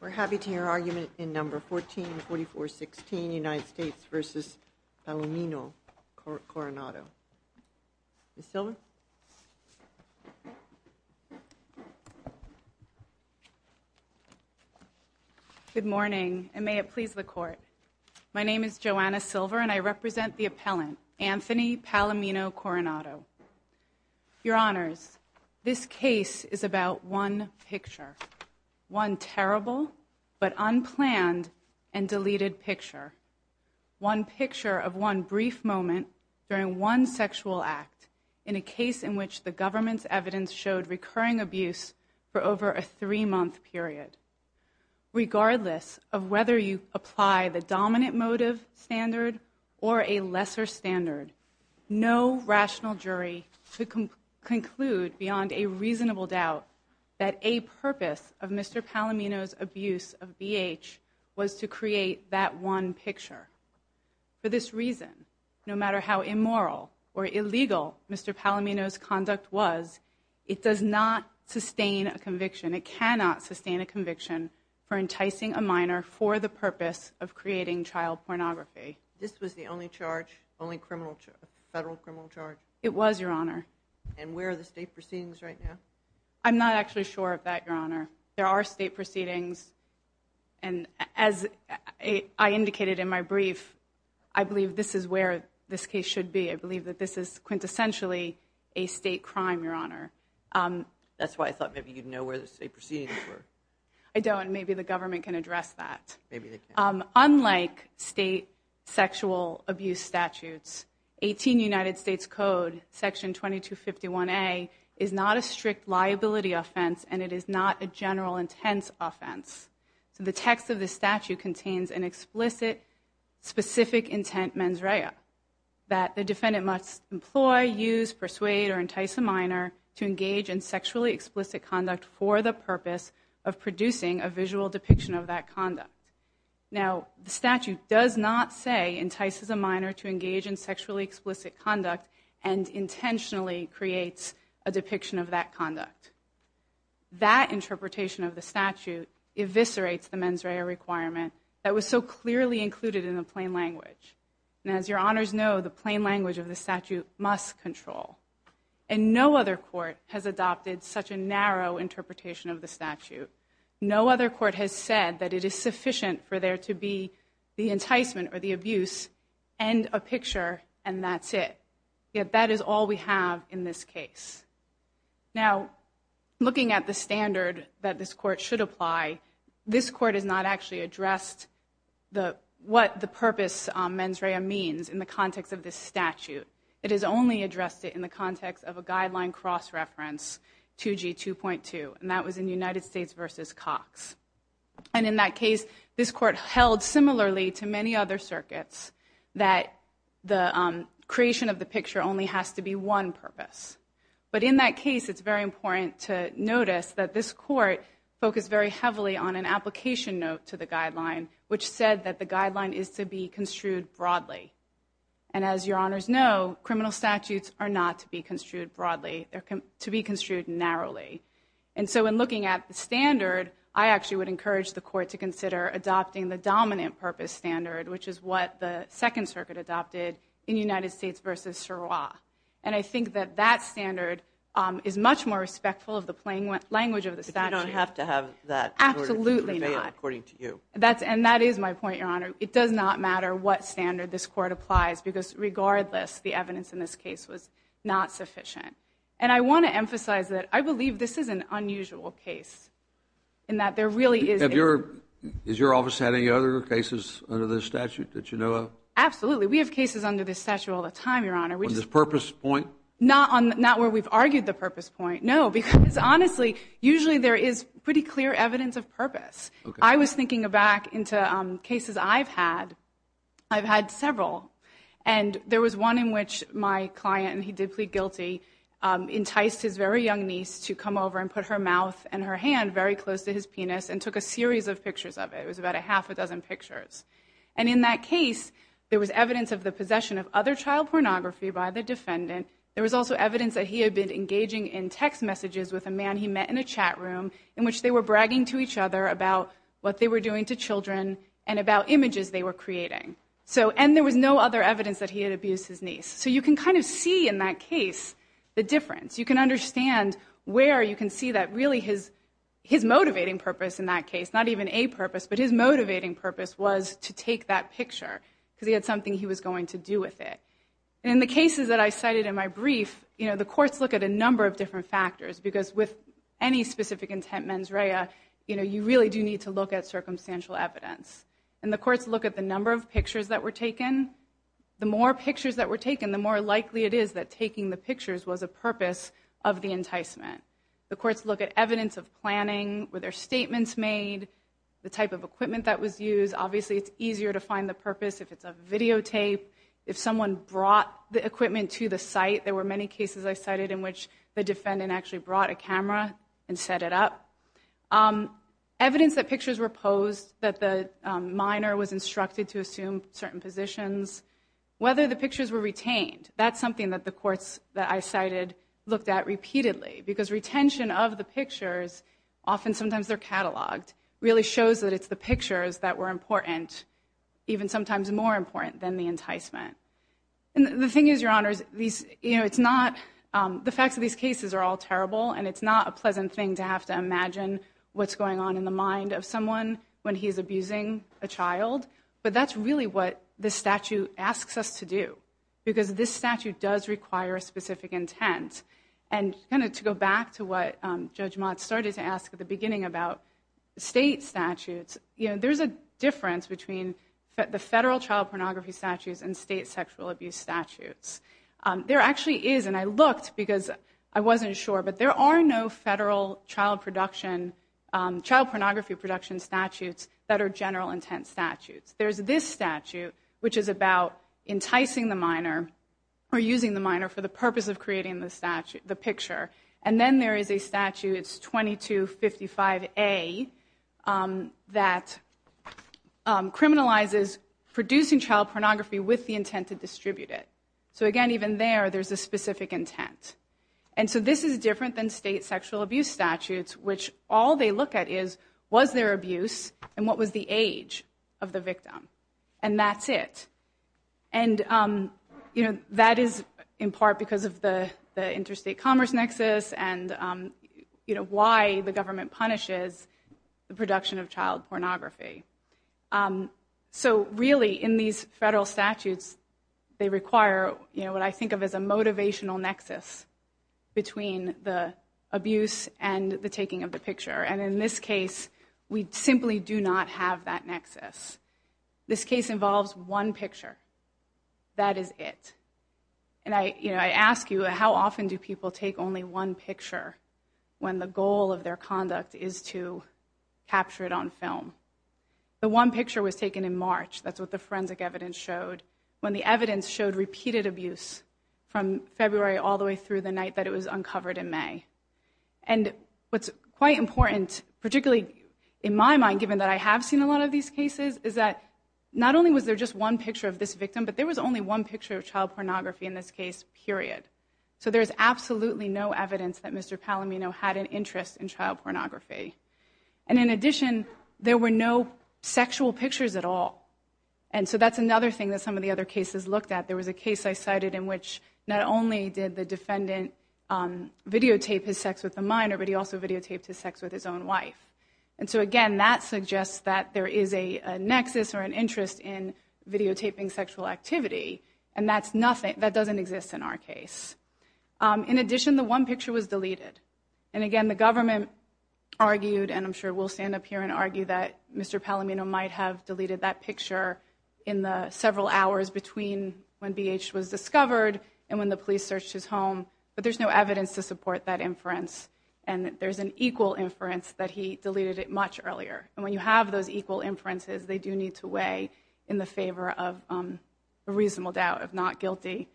We're happy to hear argument in No. 144416, United States v. Palomino-Coronado. Ms. Silver? Good morning, and may it please the Court. My name is Joanna Silver, and I represent the appellant, Anthony Palomino-Coronado. Your Honors, this case is about one picture, one terrible but unplanned and deleted picture, one picture of one brief moment during one sexual act in a case in which the government's evidence showed recurring abuse for over a three-month period. Regardless of whether you apply the dominant motive standard or a lesser standard, no rational jury could conclude beyond a reasonable doubt that a purpose of Mr. Palomino's abuse of BH was to create that one picture. For this reason, no matter how immoral or illegal Mr. Palomino's conduct was, it does not sustain a conviction. It cannot sustain a conviction for enticing a minor for the purpose of creating child pornography. This was the only charge, only federal criminal charge? It was, Your Honor. And where are the state proceedings right now? I'm not actually sure of that, Your Honor. There are state proceedings, and as I indicated in my brief, I believe this is where this case should be. I believe that this is quintessentially a state crime, Your Honor. That's why I thought maybe you'd know where the state proceedings were. I don't. Maybe the government can address that. Maybe they can. Unlike state sexual abuse statutes, 18 United States Code, Section 2251A, is not a strict liability offense, and it is not a general intense offense. The text of the statute contains an explicit, specific intent mens rea, that the defendant must employ, use, persuade, or entice a minor to engage in sexually explicit conduct for the purpose of producing a visual depiction of that conduct. Now, the statute does not say, entices a minor to engage in sexually explicit conduct, and intentionally creates a depiction of that conduct. That interpretation of the statute eviscerates the mens rea requirement that was so clearly included in the plain language, and as Your Honors know, the plain language of the statute must control, and no other court has adopted such a narrow interpretation of the statute. No other court has said that it is sufficient for there to be the enticement, or the abuse, and a picture, and that's it. Yet, that is all we have in this case. Now, looking at the standard that this court should apply, this court has not actually addressed what the purpose mens rea means in the context of this statute. It has only addressed it in the context of a guideline cross-reference, 2G 2.2, and that was in United States v. Cox. And in that case, this court held similarly to many other circuits that the creation of the picture only has to be one purpose. But in that case, it's very important to notice that this court focused very heavily on an application note to the guideline, which said that the guideline is to be construed broadly. And as Your Honors know, criminal statutes are not to be construed broadly, they're to be construed narrowly. And so, in looking at the standard, I actually would encourage the court to consider adopting the dominant purpose standard, which is what the Second Circuit adopted in United States v. Sirois. And I think that that standard is much more respectful of the plain language of the statute. But you don't have to have that in order to convey it, according to you. Absolutely not. And that is my point, Your Honor. It does not matter what standard this court applies, because regardless, the evidence in this case was not sufficient. And I want to emphasize that I believe this is an unusual case, and that there really is a... Has your office had any other cases under this statute that you know of? Absolutely. We have cases under this statute all the time, Your Honor. On this purpose point? Not where we've argued the purpose point. No, because honestly, usually there is pretty clear evidence of purpose. Okay. I was thinking back into cases I've had. I've had several. And there was one in which my client, and he did plead guilty, enticed his very young niece to come over and put her mouth and her hand very close to his penis and took a series of pictures of it. It was about a half a dozen pictures. And in that case, there was evidence of the possession of other child pornography by the defendant. There was also evidence that he had been engaging in text messages with a man he met in a chat room, in which they were bragging to each other about what they were doing to children and about images they were creating. And there was no other evidence that he had abused his niece. So you can kind of see in that case the difference. You can understand where you can see that really his motivating purpose in that case, not even a purpose, but his motivating purpose was to take that picture because he had something he was going to do with it. And in the cases that I cited in my brief, the courts look at a number of different factors because with any specific intent mens rea, you really do need to look at circumstantial evidence. And the courts look at the number of pictures that were taken. The more pictures that were taken, the more likely it is that taking the pictures was a purpose of the enticement. The courts look at evidence of planning, were there statements made, the type of equipment that was used. Obviously, it's easier to find the purpose if it's a videotape. If someone brought the equipment to the site, there were many cases I cited in which the defendant actually brought a camera and set it up. Evidence that pictures were posed, that the minor was instructed to assume certain positions, whether the pictures were retained. That's something that the courts that I cited looked at repeatedly because retention of the pictures, often sometimes they're cataloged, really shows that it's the pictures that were important, even sometimes more important than the enticement. And the thing is, Your Honors, the facts of these cases are all terrible and it's not a pleasant thing to have to imagine what's going on in the mind of someone when he's abusing a child. But that's really what this statute asks us to do, because this statute does require a specific intent. And kind of to go back to what Judge Mott started to ask at the beginning about state statutes, there's a difference between the federal child pornography statutes and state sexual abuse statutes. There actually is, and I looked because I wasn't sure, but there are no federal child production, child pornography production statutes that are general intent statutes. There's this statute, which is about enticing the minor or using the minor for the purpose of creating the picture. And then there is a statute, it's 2255A, that criminalizes producing child pornography with the intent to distribute it. So again, even there, there's a specific intent. And so this is different than state sexual abuse statutes, which all they look at is, was there abuse and what was the age of the victim? And that's it. And that is in part because of the interstate commerce nexus and why the government punishes the production of child pornography. So really, in these federal statutes, they require what I think of as a motivational nexus between the abuse and the taking of the picture. And in this case, we simply do not have that nexus. This case involves one picture. That is it. And I ask you, how often do people take only one picture when the goal of their conduct is to capture it on film? The one picture was taken in March, that's what the forensic evidence showed, when the evidence showed repeated abuse from February all the way through the night that it was uncovered in May. And what's quite important, particularly in my mind, given that I have seen a lot of these cases, is that not only was there just one picture of this victim, but there was only one picture of child pornography in this case, period. So there's absolutely no evidence that Mr. Palomino had an interest in child pornography. And in addition, there were no sexual pictures at all. And so that's another thing that some of the other cases looked at. There was a case I cited in which not only did the defendant videotape his sex with a minor, but he also videotaped his sex with his own wife. And so again, that suggests that there is a nexus or an interest in videotaping sexual activity, and that doesn't exist in our case. In addition, the one picture was deleted. And again, the government argued, and I'm sure we'll stand up here and argue that Mr. Palomino might have deleted that picture in the several hours between when BH was discovered and when the police searched his home, but there's no evidence to support that inference. And there's an equal inference that he deleted it much earlier. And when you have those equal inferences, they do need to weigh in the favor of a reasonable doubt of not guilty.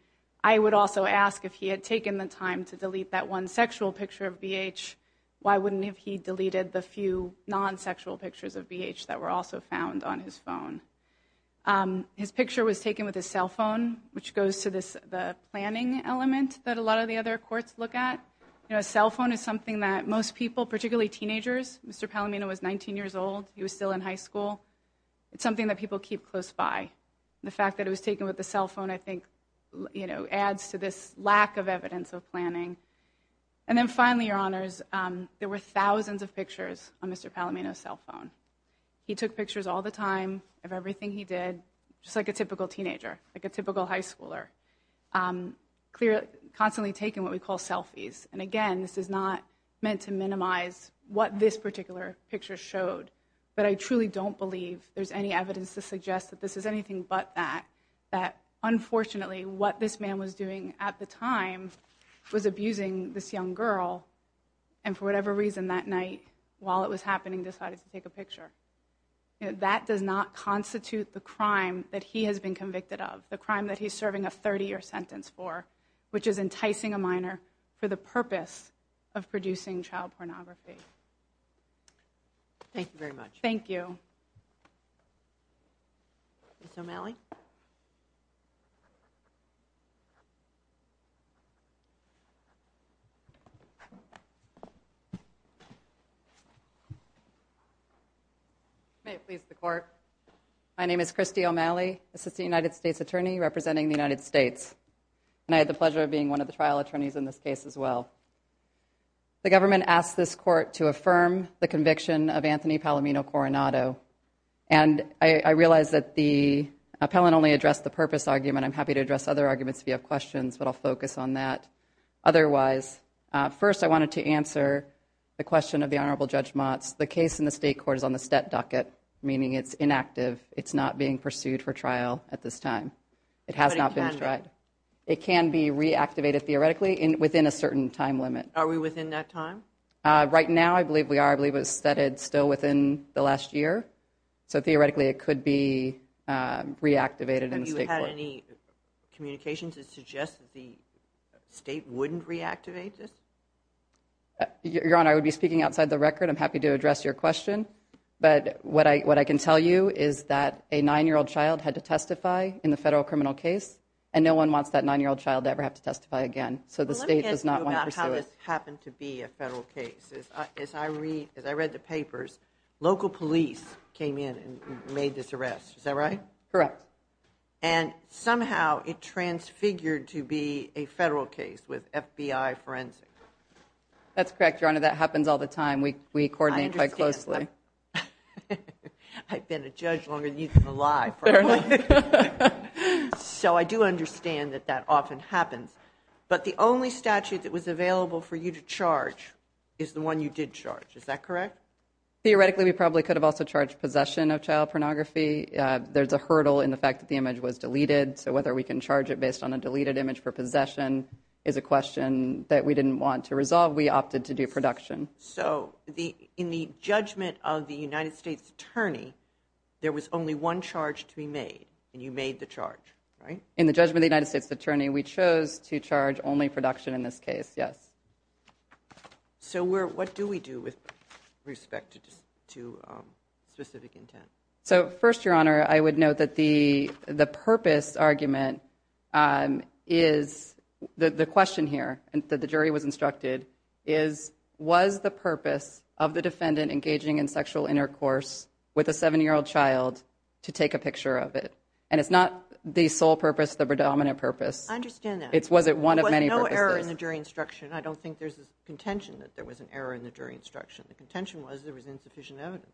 I would also ask if he had taken the time to delete that one sexual picture of BH, why wouldn't he have deleted the few non-sexual pictures of BH that were also found on his phone? His picture was taken with his cell phone, which goes to the planning element that a lot of the other courts look at. A cell phone is something that most people, particularly teenagers, Mr. Palomino was 19 years old, he was still in high school. It's something that people keep close by. The fact that it was taken with a cell phone I think adds to this lack of evidence of planning. And then finally, your honors, there were thousands of pictures on Mr. Palomino's cell phone. He took pictures all the time of everything he did, just like a typical teenager, like a typical high schooler. Constantly taking what we call selfies. And again, this is not meant to minimize what this particular picture showed. But I truly don't believe there's any evidence to suggest that this is anything but that. That unfortunately what this man was doing at the time was abusing this young girl, and for whatever reason that night, while it was happening, decided to take a picture. That does not constitute the crime that he has been convicted of, the crime that he's of producing child pornography. Thank you very much. Ms. O'Malley? May it please the court. My name is Christy O'Malley, Assistant United States Attorney representing the United States. And I had the pleasure of being one of the trial attorneys in this case as well. The government asked this court to affirm the conviction of Anthony Palomino Coronado. And I realize that the appellant only addressed the purpose argument. I'm happy to address other arguments if you have questions, but I'll focus on that. Otherwise, first I wanted to answer the question of the Honorable Judge Motz. The case in the state court is on the stat docket, meaning it's inactive. It's not being pursued for trial at this time. It has not been tried. But it can be? It can be reactivated theoretically within a certain time limit. Are we within that time? Right now, I believe we are. I believe it was studied still within the last year. So theoretically, it could be reactivated in the state court. Have you had any communication to suggest that the state wouldn't reactivate this? Your Honor, I would be speaking outside the record. I'm happy to address your question. But what I can tell you is that a 9-year-old child had to testify in the federal criminal case, and no one wants that 9-year-old child to ever have to testify again. So the state does not want to pursue it. Well, let me ask you about how this happened to be a federal case. As I read the papers, local police came in and made this arrest. Is that right? Correct. And somehow it transfigured to be a federal case with FBI forensic. That's correct, Your Honor. That happens all the time. We coordinate quite closely. I understand that. I've been a judge longer than you've been alive. So I do understand that that often happens. But the only statute that was available for you to charge is the one you did charge. Is that correct? Theoretically, we probably could have also charged possession of child pornography. There's a hurdle in the fact that the image was deleted, so whether we can charge it based on a deleted image for possession is a question that we didn't want to resolve. We opted to do production. So in the judgment of the United States Attorney, there was only one charge to be made, and you made the charge, right? In the judgment of the United States Attorney, we chose to charge only production in this case, yes. So what do we do with respect to specific intent? So first, Your Honor, I would note that the purpose argument is the question here that the jury was instructed is was the purpose of the defendant engaging in sexual intercourse with a 7-year-old child to take a picture of it. And it's not the sole purpose, the predominant purpose. I understand that. Was it one of many purposes? There was no error in the jury instruction. I don't think there's a contention that there was an error in the jury instruction. The contention was there was insufficient evidence.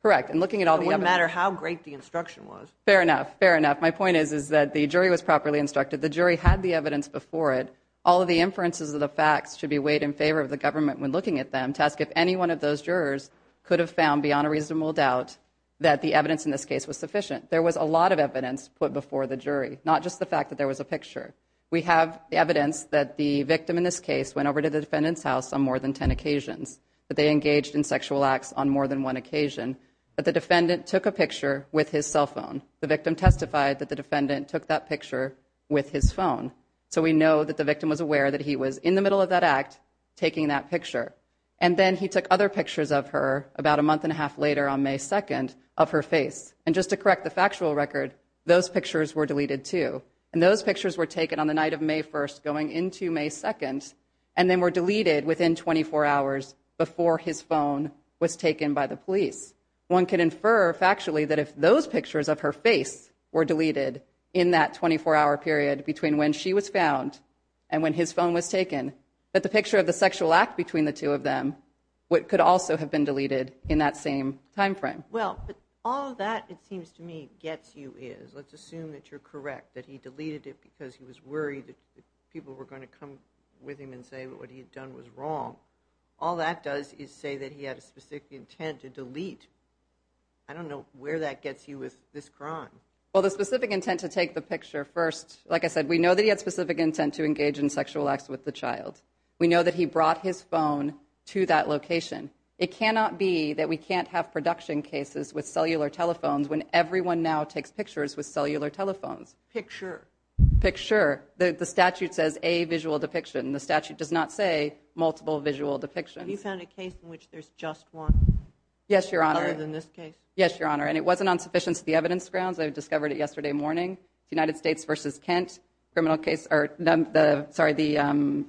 Correct, and looking at all the evidence. It wouldn't matter how great the instruction was. Fair enough, fair enough. My point is that the jury was properly instructed. The jury had the evidence before it. All of the inferences of the facts should be weighed in favor of the government when looking at them to ask if any one of those jurors could have found beyond a reasonable doubt that the evidence in this case was sufficient. There was a lot of evidence put before the jury, not just the fact that there was a picture. We have evidence that the victim in this case went over to the defendant's house on more than 10 occasions, that they engaged in sexual acts on more than one occasion, that the defendant took a picture with his cell phone. The victim testified that the defendant took that picture with his phone. So we know that the victim was aware that he was in the middle of that act taking that picture. And then he took other pictures of her about a month and a half later on May 2nd of her face. And just to correct the factual record, those pictures were deleted too. And those pictures were taken on the night of May 1st going into May 2nd, and then were deleted within 24 hours before his phone was taken by the police. One can infer factually that if those pictures of her face were deleted in that 24-hour period between when she was found and when his phone was taken, that the picture of the sexual act between the two of them could also have been deleted in that same time frame. Well, all that it seems to me gets you is, let's assume that you're correct, that he deleted it because he was worried that people were going to come with him and say what he had done was wrong. All that does is say that he had a specific intent to delete. I don't know where that gets you with this crime. Well, the specific intent to take the picture first, like I said, we know that he had specific intent to engage in sexual acts with the child. We know that he brought his phone to that location. It cannot be that we can't have production cases with cellular telephones when everyone now takes pictures with cellular telephones. Picture. Picture. The statute says a visual depiction. The statute does not say multiple visual depictions. Have you found a case in which there's just one? Yes, Your Honor. Other than this case? Yes, Your Honor. And it wasn't on sufficiency of the evidence grounds. I discovered it yesterday morning. United States v. Kent. The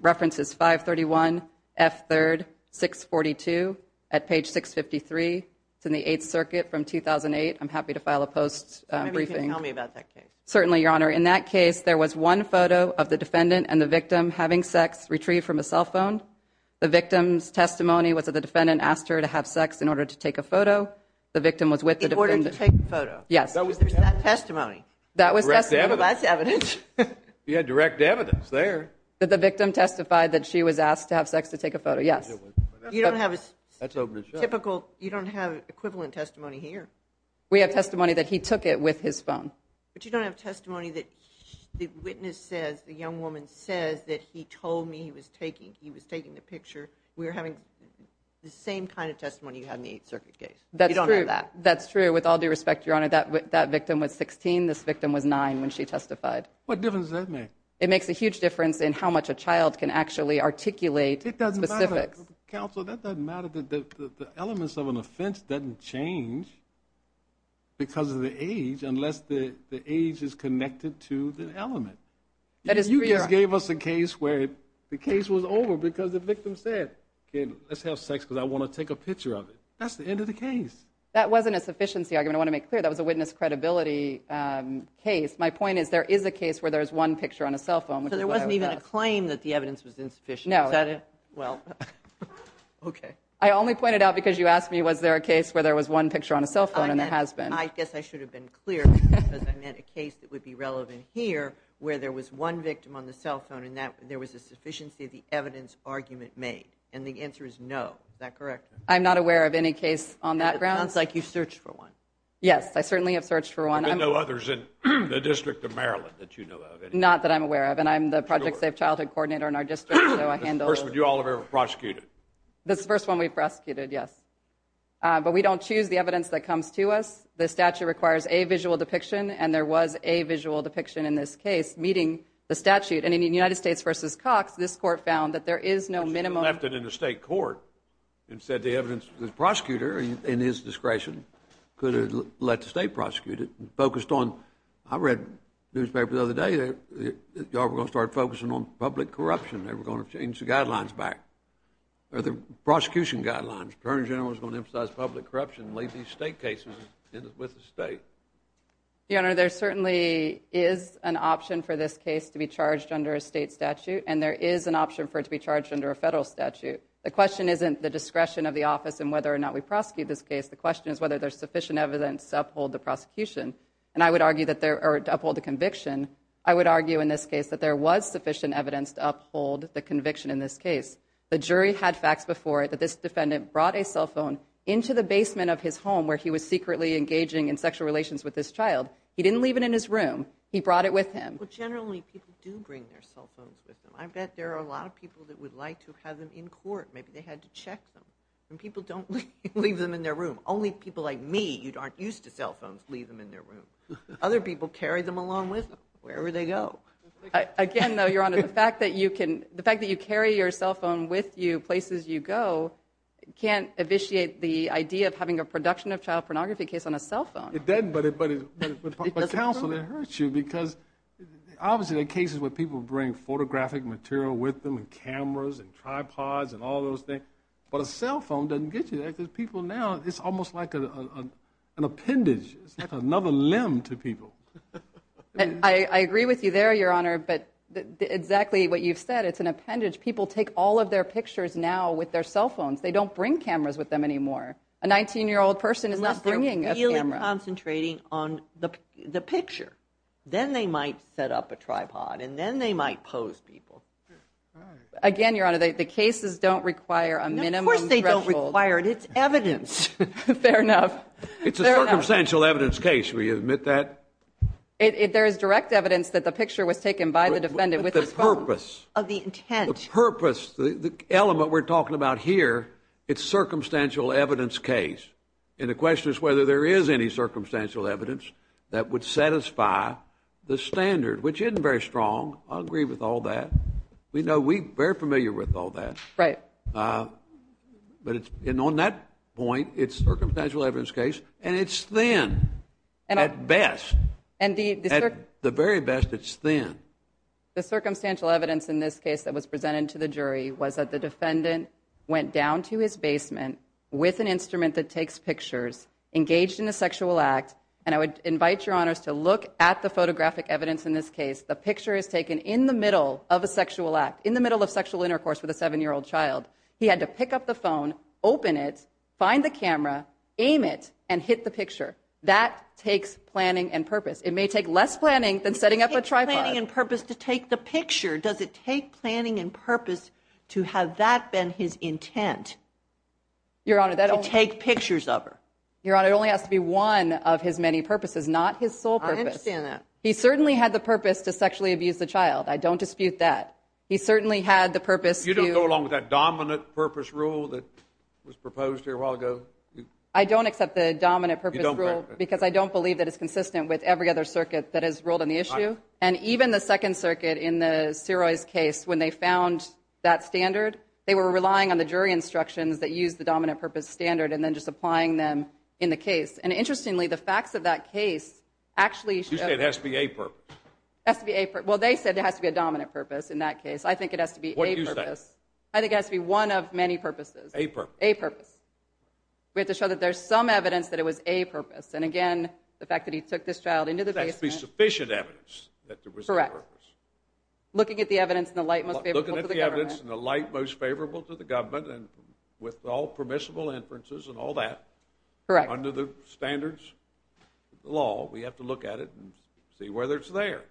reference is 531F3-642 at page 653. It's in the Eighth Circuit from 2008. I'm happy to file a post-briefing. Maybe you can tell me about that case. Certainly, Your Honor. In that case, there was one photo of the defendant and the victim having sex retrieved from a cell phone. The victim's testimony was that the defendant asked her to have sex in order to take a photo. The victim was with the defendant. In order to take a photo. Yes. There's that testimony. That was testimony. That's evidence. You had direct evidence there. That the victim testified that she was asked to have sex to take a photo. Yes. You don't have equivalent testimony here. We have testimony that he took it with his phone. But you don't have testimony that the witness says, the young woman says that he told me he was taking the picture. We're having the same kind of testimony you had in the Eighth Circuit case. That's true. You don't have that. That's true. With all due respect, Your Honor, that victim was 16. This victim was 9 when she testified. What difference does that make? It makes a huge difference in how much a child can actually articulate specifics. It doesn't matter. Counsel, that doesn't matter. The elements of an offense doesn't change because of the age unless the age is connected to the element. You just gave us a case where the case was over because the victim said, let's have sex because I want to take a picture of it. That's the end of the case. That wasn't a sufficiency argument. I want to make clear that was a witness credibility case. My point is there is a case where there's one picture on a cell phone. So there wasn't even a claim that the evidence was insufficient. No. Is that it? Well, okay. I only pointed out because you asked me was there a case where there was one picture on a cell phone and there has been. I guess I should have been clear because I meant a case that would be relevant here where there was one victim on the cell phone and there was a sufficiency of the evidence argument made. And the answer is no. Is that correct? I'm not aware of any case on that ground. It sounds like you searched for one. Yes. I certainly have searched for one. There have been no others in the District of Maryland that you know of. Not that I'm aware of. And I'm the Project Safe Childhood Coordinator in our district. So I handle. That's the first one you all have ever prosecuted. That's the first one we've prosecuted, yes. But we don't choose the evidence that comes to us. The statute requires a visual depiction, and there was a visual depiction in this case meeting the statute. And in the United States v. Cox, this court found that there is no minimum. You should have left it in the state court and said the evidence. The prosecutor, in his discretion, could have let the state prosecute it and focused on. I read a newspaper the other day that you all were going to start focusing on public corruption. They were going to change the guidelines back or the prosecution guidelines. The Attorney General was going to emphasize public corruption and leave these state cases with the state. Your Honor, there certainly is an option for this case to be charged under a state statute, and there is an option for it to be charged under a federal statute. The question isn't the discretion of the office and whether or not we prosecute this case. The question is whether there's sufficient evidence to uphold the prosecution. And I would argue that there are to uphold the conviction. I would argue in this case that there was sufficient evidence to uphold the conviction in this case. The jury had facts before that this defendant brought a cell phone into the home where he was secretly engaging in sexual relations with this child. He didn't leave it in his room. He brought it with him. Well, generally, people do bring their cell phones with them. I bet there are a lot of people that would like to have them in court. Maybe they had to check them. And people don't leave them in their room. Only people like me who aren't used to cell phones leave them in their room. Other people carry them along with them wherever they go. Again, though, Your Honor, the fact that you carry your cell phone with you places you go can't evisciate the idea of having a production of child pornography case on a cell phone. It doesn't. But counsel, it hurts you because obviously the cases where people bring photographic material with them and cameras and tripods and all those things, but a cell phone doesn't get you that because people now, it's almost like an appendage. It's like another limb to people. I agree with you there, Your Honor. But exactly what you've said, it's an appendage. People take all of their pictures now with their cell phones. They don't bring cameras with them anymore. A 19-year-old person is not bringing a camera. Unless they're really concentrating on the picture. Then they might set up a tripod and then they might pose people. Again, Your Honor, the cases don't require a minimum threshold. Of course they don't require it. It's evidence. Fair enough. It's a circumstantial evidence case. Will you admit that? There is direct evidence that the picture was taken by the defendant with the intent. The purpose, the element we're talking about here, it's a circumstantial evidence case. The question is whether there is any circumstantial evidence that would satisfy the standard, which isn't very strong. I agree with all that. We know we're very familiar with all that. Right. On that point, it's a circumstantial evidence case, and it's thin at best. At the very best, it's thin. The circumstantial evidence in this case that was presented to the jury was that the defendant went down to his basement with an instrument that takes pictures, engaged in a sexual act. And I would invite Your Honors to look at the photographic evidence in this case. The picture is taken in the middle of a sexual act, in the middle of sexual intercourse with a seven-year-old child. He had to pick up the phone, open it, find the camera, aim it, and hit the picture. That takes planning and purpose. It may take less planning than setting up a tripod. It takes planning and purpose to take the picture. Does it take planning and purpose to have that been his intent, to take pictures of her? Your Honor, it only has to be one of his many purposes, not his sole purpose. I understand that. He certainly had the purpose to sexually abuse the child. I don't dispute that. He certainly had the purpose to ---- You don't go along with that dominant purpose rule that was proposed here a while ago? I don't accept the dominant purpose rule because I don't believe that it's consistent with every other circuit that has ruled on the issue. And even the Second Circuit in the Syrois case, when they found that standard, they were relying on the jury instructions that used the dominant purpose standard and then just applying them in the case. And interestingly, the facts of that case actually ---- You say it has to be a purpose. It has to be a purpose. Well, they said it has to be a dominant purpose in that case. I think it has to be a purpose. What do you say? I think it has to be one of many purposes. A purpose. A purpose. We have to show that there's some evidence that it was a purpose. And again, the fact that he took this child into the basement ---- Correct. Looking at the evidence in the light most favorable to the government. Looking at the evidence in the light most favorable to the government, and with all permissible inferences and all that. Correct. Under the standards of the law, we have to look at it and see whether it's there.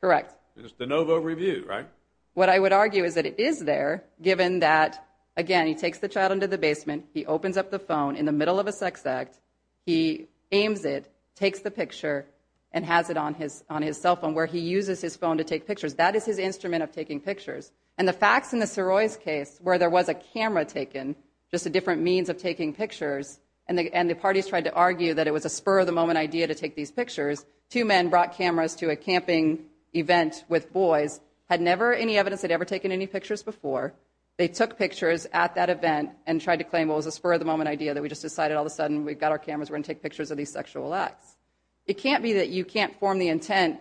Correct. It's de novo review, right? What I would argue is that it is there, given that, again, he takes the child into the basement, he opens up the phone in the middle of a sex act, he aims it, takes the picture, and has it on his cell phone, where he uses his phone to take pictures. That is his instrument of taking pictures. And the facts in the Soroy's case, where there was a camera taken, just a different means of taking pictures, and the parties tried to argue that it was a spur of the moment idea to take these pictures. Two men brought cameras to a camping event with boys, had never any evidence they'd ever taken any pictures before. They took pictures at that event and tried to claim, well, it was a spur of the moment idea that we just decided all of a sudden we've got our cameras, we're going to take pictures of these sexual acts. It can't be that you can't form the intent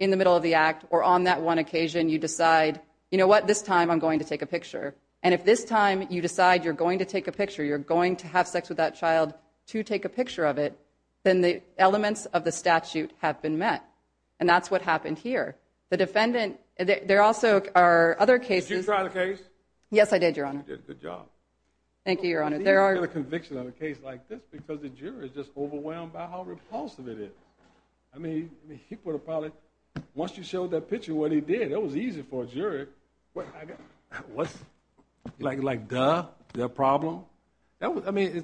in the middle of the act, or on that one occasion you decide, you know what, this time I'm going to take a picture. And if this time you decide you're going to take a picture, you're going to have sex with that child to take a picture of it, then the elements of the statute have been met. And that's what happened here. The defendant, there also are other cases. Did you try the case? Yes, I did, Your Honor. You did a good job. Thank you, Your Honor. I didn't get a conviction on a case like this, because the juror is just overwhelmed by how repulsive it is. I mean, he would have probably, once you showed that picture of what he did, that was easy for a juror. Like, duh, is that a problem? I mean,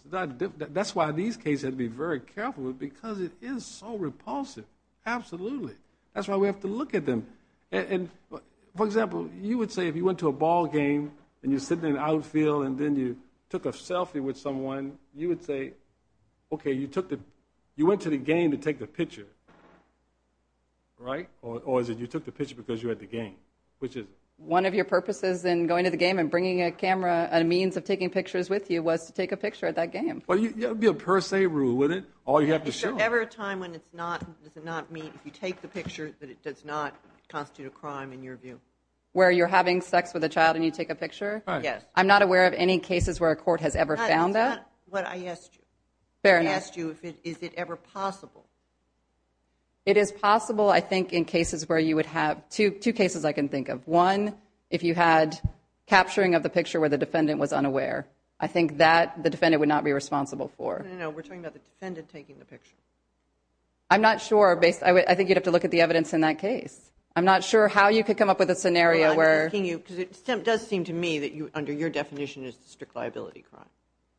that's why these cases have to be very careful, because it is so repulsive, absolutely. That's why we have to look at them. For example, you would say if you went to a ball game and you're sitting in an outfield and then you took a selfie with someone, you would say, okay, you went to the game to take the picture, right? Or is it you took the picture because you were at the game? Which is it? One of your purposes in going to the game and bringing a camera, a means of taking pictures with you, was to take a picture at that game. Well, it would be a per se rule, wouldn't it? All you have to show them. Is there ever a time when it's not, does it not mean if you take the picture that it does not constitute a crime in your view? Where you're having sex with a child and you take a picture? Yes. I'm not aware of any cases where a court has ever found that. That's not what I asked you. Fair enough. I asked you is it ever possible. It is possible, I think, in cases where you would have, two cases I can think of. One, if you had capturing of the picture where the defendant was unaware. I think that the defendant would not be responsible for. No, no, no. We're talking about the defendant taking the picture. I'm not sure. I think you'd have to look at the evidence in that case. I'm not sure how you could come up with a scenario where. Because it does seem to me that under your definition is strict liability crime.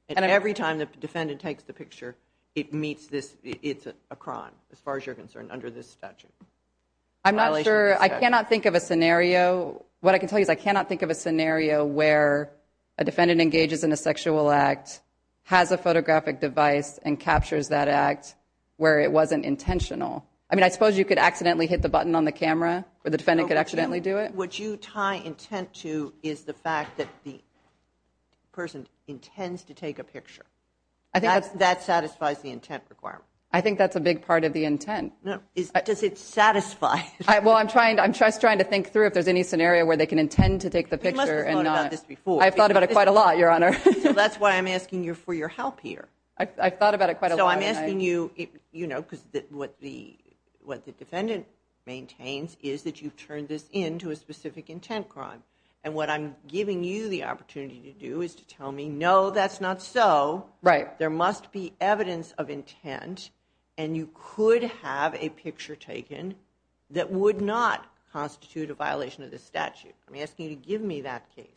And every time the defendant takes the picture it meets this, it's a crime as far as you're concerned under this statute. I'm not sure. I cannot think of a scenario. What I can tell you is I cannot think of a scenario where a defendant engages in a sexual act, has a photographic device and captures that act where it wasn't intentional. I mean, I suppose you could accidentally hit the button on the camera or the defendant could accidentally do it. What you tie intent to is the fact that the person intends to take a picture. I think that's, that satisfies the intent requirement. I think that's a big part of the intent. Does it satisfy? Well, I'm trying to, I'm just trying to think through if there's any scenario where they can intend to take the picture. And I've thought about it quite a lot. Your honor. That's why I'm asking you for your help here. I thought about it quite a lot. I'm asking you, you know, because what the, what the defendant maintains is that you've turned this into a specific intent crime. And what I'm giving you the opportunity to do is to tell me, no, that's not so right. There must be evidence of intent and you could have a picture taken that would not constitute a violation of the statute. I'm asking you to give me that case,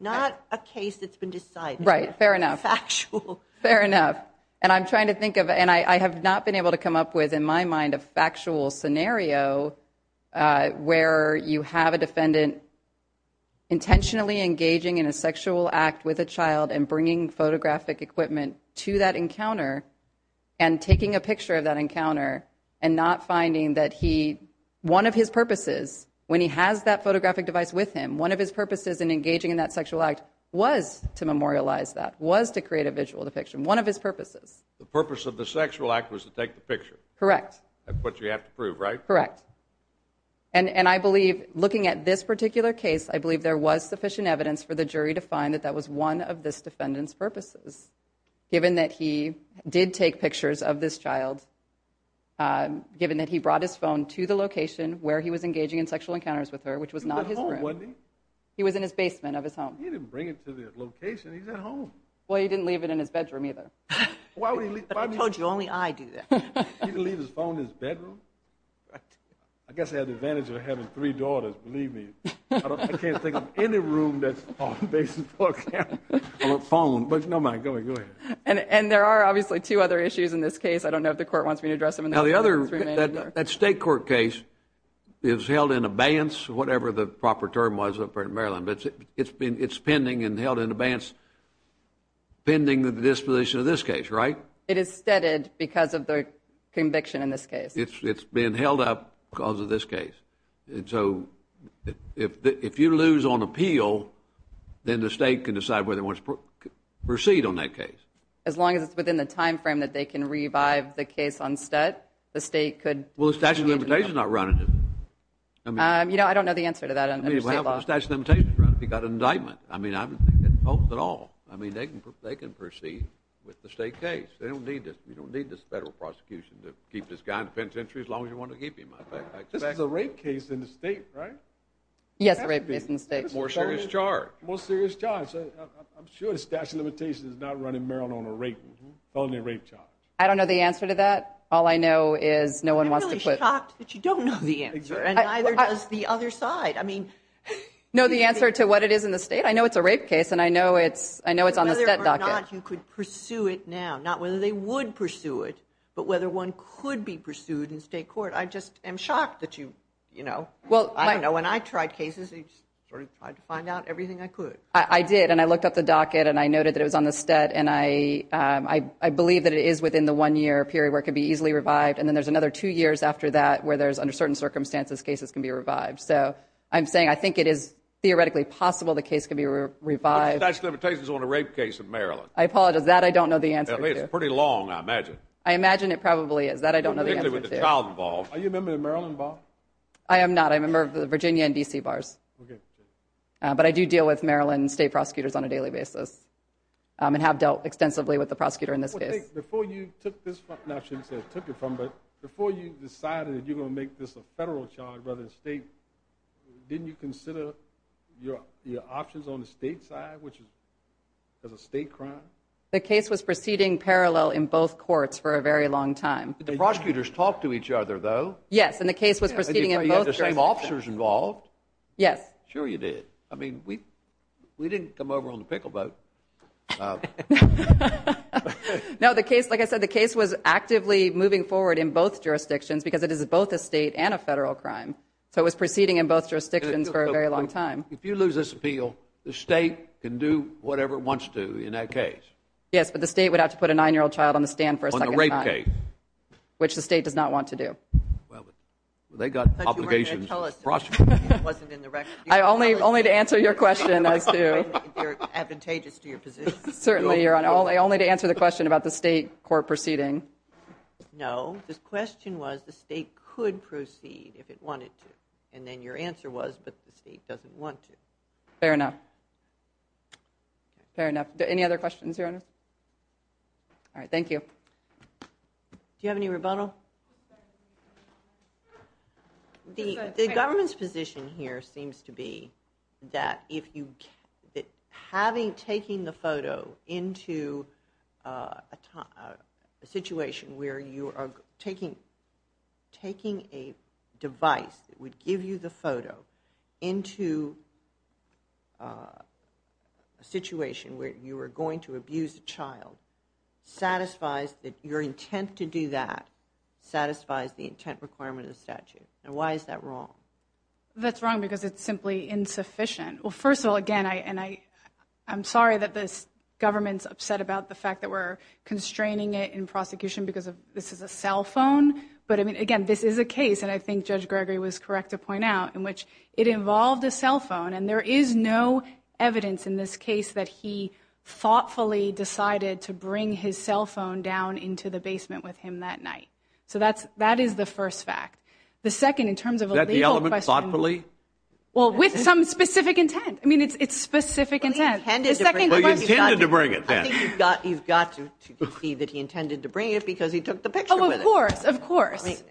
not a case that's been decided. Right. Fair enough. Factual. Fair enough. And I'm trying to think of, and I have not been able to come up with in my mind, a factual scenario where you have a defendant intentionally engaging in a sexual act with a child and bringing photographic equipment to that encounter and taking a picture of that encounter and not finding that he, one of his purposes, when he has that photographic device with him, one of his purposes in engaging in that sexual act was to memorialize that was to create a visual depiction. One of his purposes. The purpose of the sexual act was to take the picture. Correct. That's what you have to prove, right? Correct. And, and I believe looking at this particular case, I believe there was sufficient evidence for the jury to find that that was one of this defendant's purposes, given that he did take pictures of this child, given that he brought his phone to the location where he was engaging in sexual encounters with her, which was not his room. He was in his basement of his home. He didn't bring it to the location. He's at home. Well, he didn't leave it in his bedroom either. I told you only I do that. He didn't leave his phone in his bedroom? I guess he had the advantage of having three daughters, believe me. I can't think of any room that's on a basement floor, on a phone, but no matter, go ahead. And, and there are obviously two other issues in this case. I don't know if the court wants me to address them. Now the other, that state court case is held in abeyance, whatever the proper term was up there in Maryland, but it's been, it's pending and held in abeyance pending the disposition of this case, right? It is steaded because of the conviction in this case. It's, it's been held up because of this case. And so if, if you lose on appeal, then the state can decide whether it wants to proceed on that case. As long as it's within the timeframe that they can revive the case on stat, the state could. Well, the statute of limitations is not running it. You know, I don't know the answer to that under state law. You got an indictment. I mean, I don't think it holds at all. I mean, they can, they can proceed with the state case. They don't need this. You don't need this federal prosecution to keep this guy in the penitentiary as long as you want to keep him. This is a rape case in the state, right? Yes. Rape case in the state. More serious charge. More serious charge. I'm sure the statute of limitations is not running Maryland on a rape, felony rape charge. I don't know the answer to that. All I know is no one wants to put. I'm really shocked that you don't know the answer and neither does the other side. I mean, no, the answer to what it is in the state. I know it's a rape case and I know it's, I know it's on the set docket. You could pursue it now, not whether they would pursue it, but whether one could be pursued in state court. I just am shocked that you, you know, well, I know when I tried cases, it's sort of hard to find out everything I could. I did. And I looked up the docket and I noted that it was on the stat. And I, um, I, I believe that it is within the one year period where it could be easily revived. And then there's another two years after that where there's under certain circumstances, cases can be revived. So I'm saying, I think it is theoretically possible. The case can be revived. That's limitations on a rape case in Maryland. I apologize that I don't know the answer. It's pretty long. I imagine. I imagine it probably is that I don't know. Are you a member of Maryland bar? I am not. I'm a member of the Virginia and DC bars. Okay. But I do deal with Maryland state prosecutors on a daily basis. Um, and have dealt extensively with the prosecutor in this case. Before you took this, I shouldn't say took it from, but before you decided that you're going to make this a federal charge, rather than state, didn't you consider your, your options on the state side, which is as a state crime. The case was proceeding parallel in both courts for a very long time. Did the prosecutors talk to each other though? Yes. And the case was proceeding in the same officers involved. Yes, sure. You did. I mean, we, we didn't come over on the pickle boat. Uh, no, the case, like I said, the case was actively moving forward in both jurisdictions because it is both a state and a federal crime. So it was proceeding in both jurisdictions for a very long time. If you lose this appeal, the state can do whatever it wants to in that case. Yes, but the state would have to put a nine-year-old child on the stand for a second rape case, which the state does not want to do. Well, they got obligations. It wasn't in the record. I only, only to answer your question as to advantageous to your position. Certainly you're on all day, only to answer the question about the state court proceeding. No, this question was the state could proceed if it wanted to. And then your answer was, but the state doesn't want to. Fair enough. Fair enough. Any other questions here? All right. Thank you. Do you have any rebuttal? The, the government's position here seems to be that if you, that having, taking the photo into, uh, a time, uh, a situation where you are, taking a device that would give you the photo into, uh, a situation where you were going to abuse a child satisfies that your intent to do that satisfies the intent requirement of statute. And why is that wrong? That's wrong because it's simply insufficient. Well, first of all, again, I, and I, I'm sorry that this government's upset about the fact that we're talking about this as a cell phone, but I mean, again, this is a case. And I think judge Gregory was correct to point out in which it involved a cell phone. And there is no evidence in this case that he thoughtfully decided to bring his cell phone down into the basement with him that night. So that's, that is the first fact. The second, in terms of the element thoughtfully, well, with some specific intent, I mean, it's, it's specific intent to bring it. You've got, you can see that he intended to bring it because he took the picture. Of course, of course,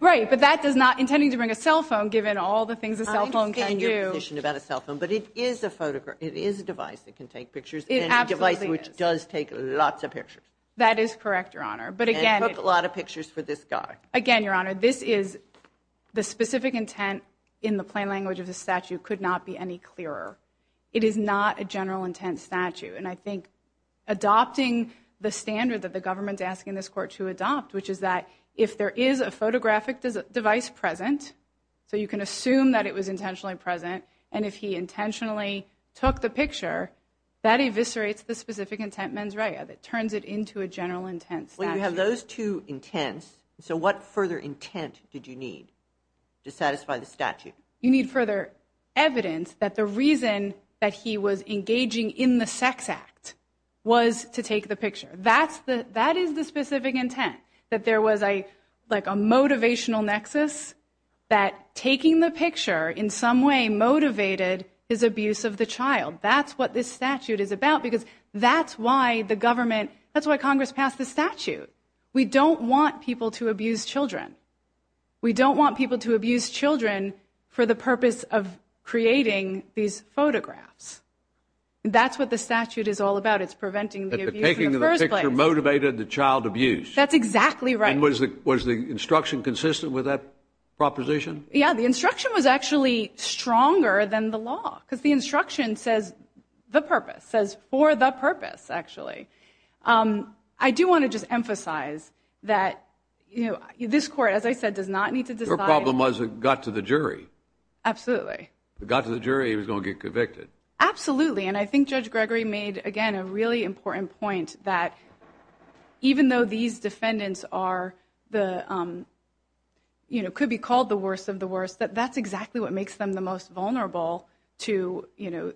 right. But that does not intending to bring a cell phone, given all the things a cell phone can do about a cell phone, but it is a photograph. It is a device that can take pictures, which does take lots of pictures. That is correct. Your honor. But again, a lot of pictures for this guy. Again, your honor, this is the specific intent in the plain language of the statute could not be any clearer. It is not a general intent statute. And I think adopting the standard that the government's asking this court to adopt, which is that if there is a photographic device present, so you can assume that it was intentionally present. And if he intentionally took the picture that eviscerates the specific intent, mens rea that turns it into a general intent. You have those two intents. So what further intent did you need to satisfy the statute? You need further evidence that the reason that he was engaging in the sex act was to take the picture. That's the, that is the specific intent that there was a, like a motivational nexus that taking the picture in some way, motivated his abuse of the child. That's what this statute is about because that's why the government, that's why Congress passed the statute. We don't want people to abuse children. We don't want people to abuse children for the purpose of creating these photographs. That's what the statute is all about. It's preventing the abuse in the first place. Taking the picture motivated the child abuse. That's exactly right. And was the, was the instruction consistent with that proposition? Yeah, the instruction was actually stronger than the law because the instruction says the purpose says for the purpose, actually. Um, I do want to just emphasize that, you know, this court, as I said, does not need to decide. The problem was it got to the jury. Absolutely. It got to the jury. He was going to get convicted. Absolutely. And I think judge Gregory made, again, a really important point that even though these defendants are the, um, you know, could be called the worst of the worst, that that's exactly what makes them the most vulnerable to, you know,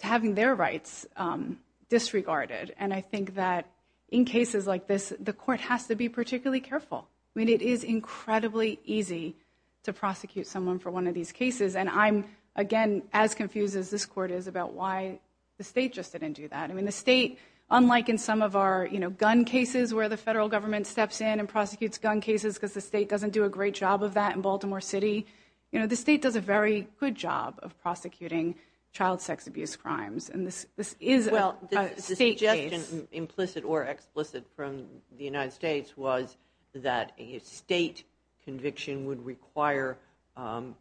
to having their rights, um, disregarded. And I think that in cases like this, the court has to be particularly careful. I mean, it is incredibly easy to prosecute someone for one of these cases. And I'm, again, as confused as this court is about why the state just didn't do that. I mean, the state, unlike in some of our, you know, gun cases where the federal government steps in and prosecutes gun cases because the state doesn't do a great job of that in Baltimore city, you know, the state does a very good job of prosecuting child sex abuse crimes. And this, this is a state case. Implicit or explicit from the United States was that a state conviction would require, um,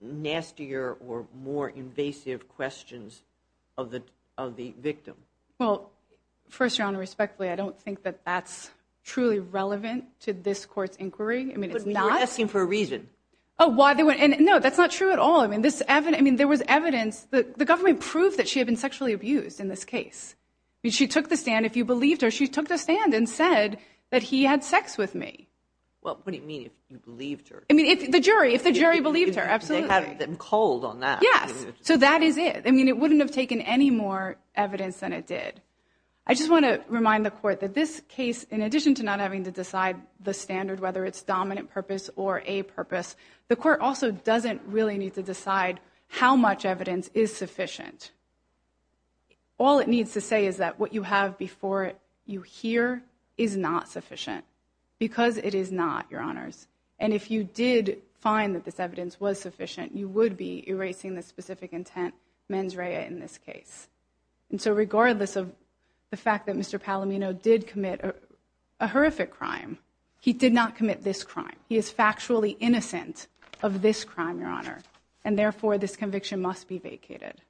nastier or more invasive questions of the, of the victim. Well, first your honor, respectfully, I don't think that that's truly relevant to this court's inquiry. I mean, it's not asking for a reason. Oh, why they went in. No, that's not true at all. I mean, this Evan, I mean, there was evidence that the government proved that she had been sexually abused in this case. I mean, she took the stand. If you believed her, she took the stand and said that he had sex with me. Well, what do you mean if you believed her? I mean, if the jury, if the jury believed her, absolutely cold on that. Yes. So that is it. I mean, it wouldn't have taken any more evidence than it did. I just want to remind the court that this case, in addition to not having to decide the standard, whether it's dominant purpose or a purpose, the court also doesn't really need to decide how much evidence is sufficient. All it needs to say is that what you have before you here is not sufficient because it is not your honors. And if you did find that this evidence was sufficient, you would be erasing the specific intent mens rea in this case. And so regardless of the fact that Mr. Palomino did commit a horrific crime, he did not commit this crime. He is factually innocent of this crime, your honor, and therefore this conviction must be vacated.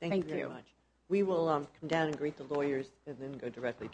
Thank you. Thank you very much. We will come down and greet the lawyers and then go directly to our panel.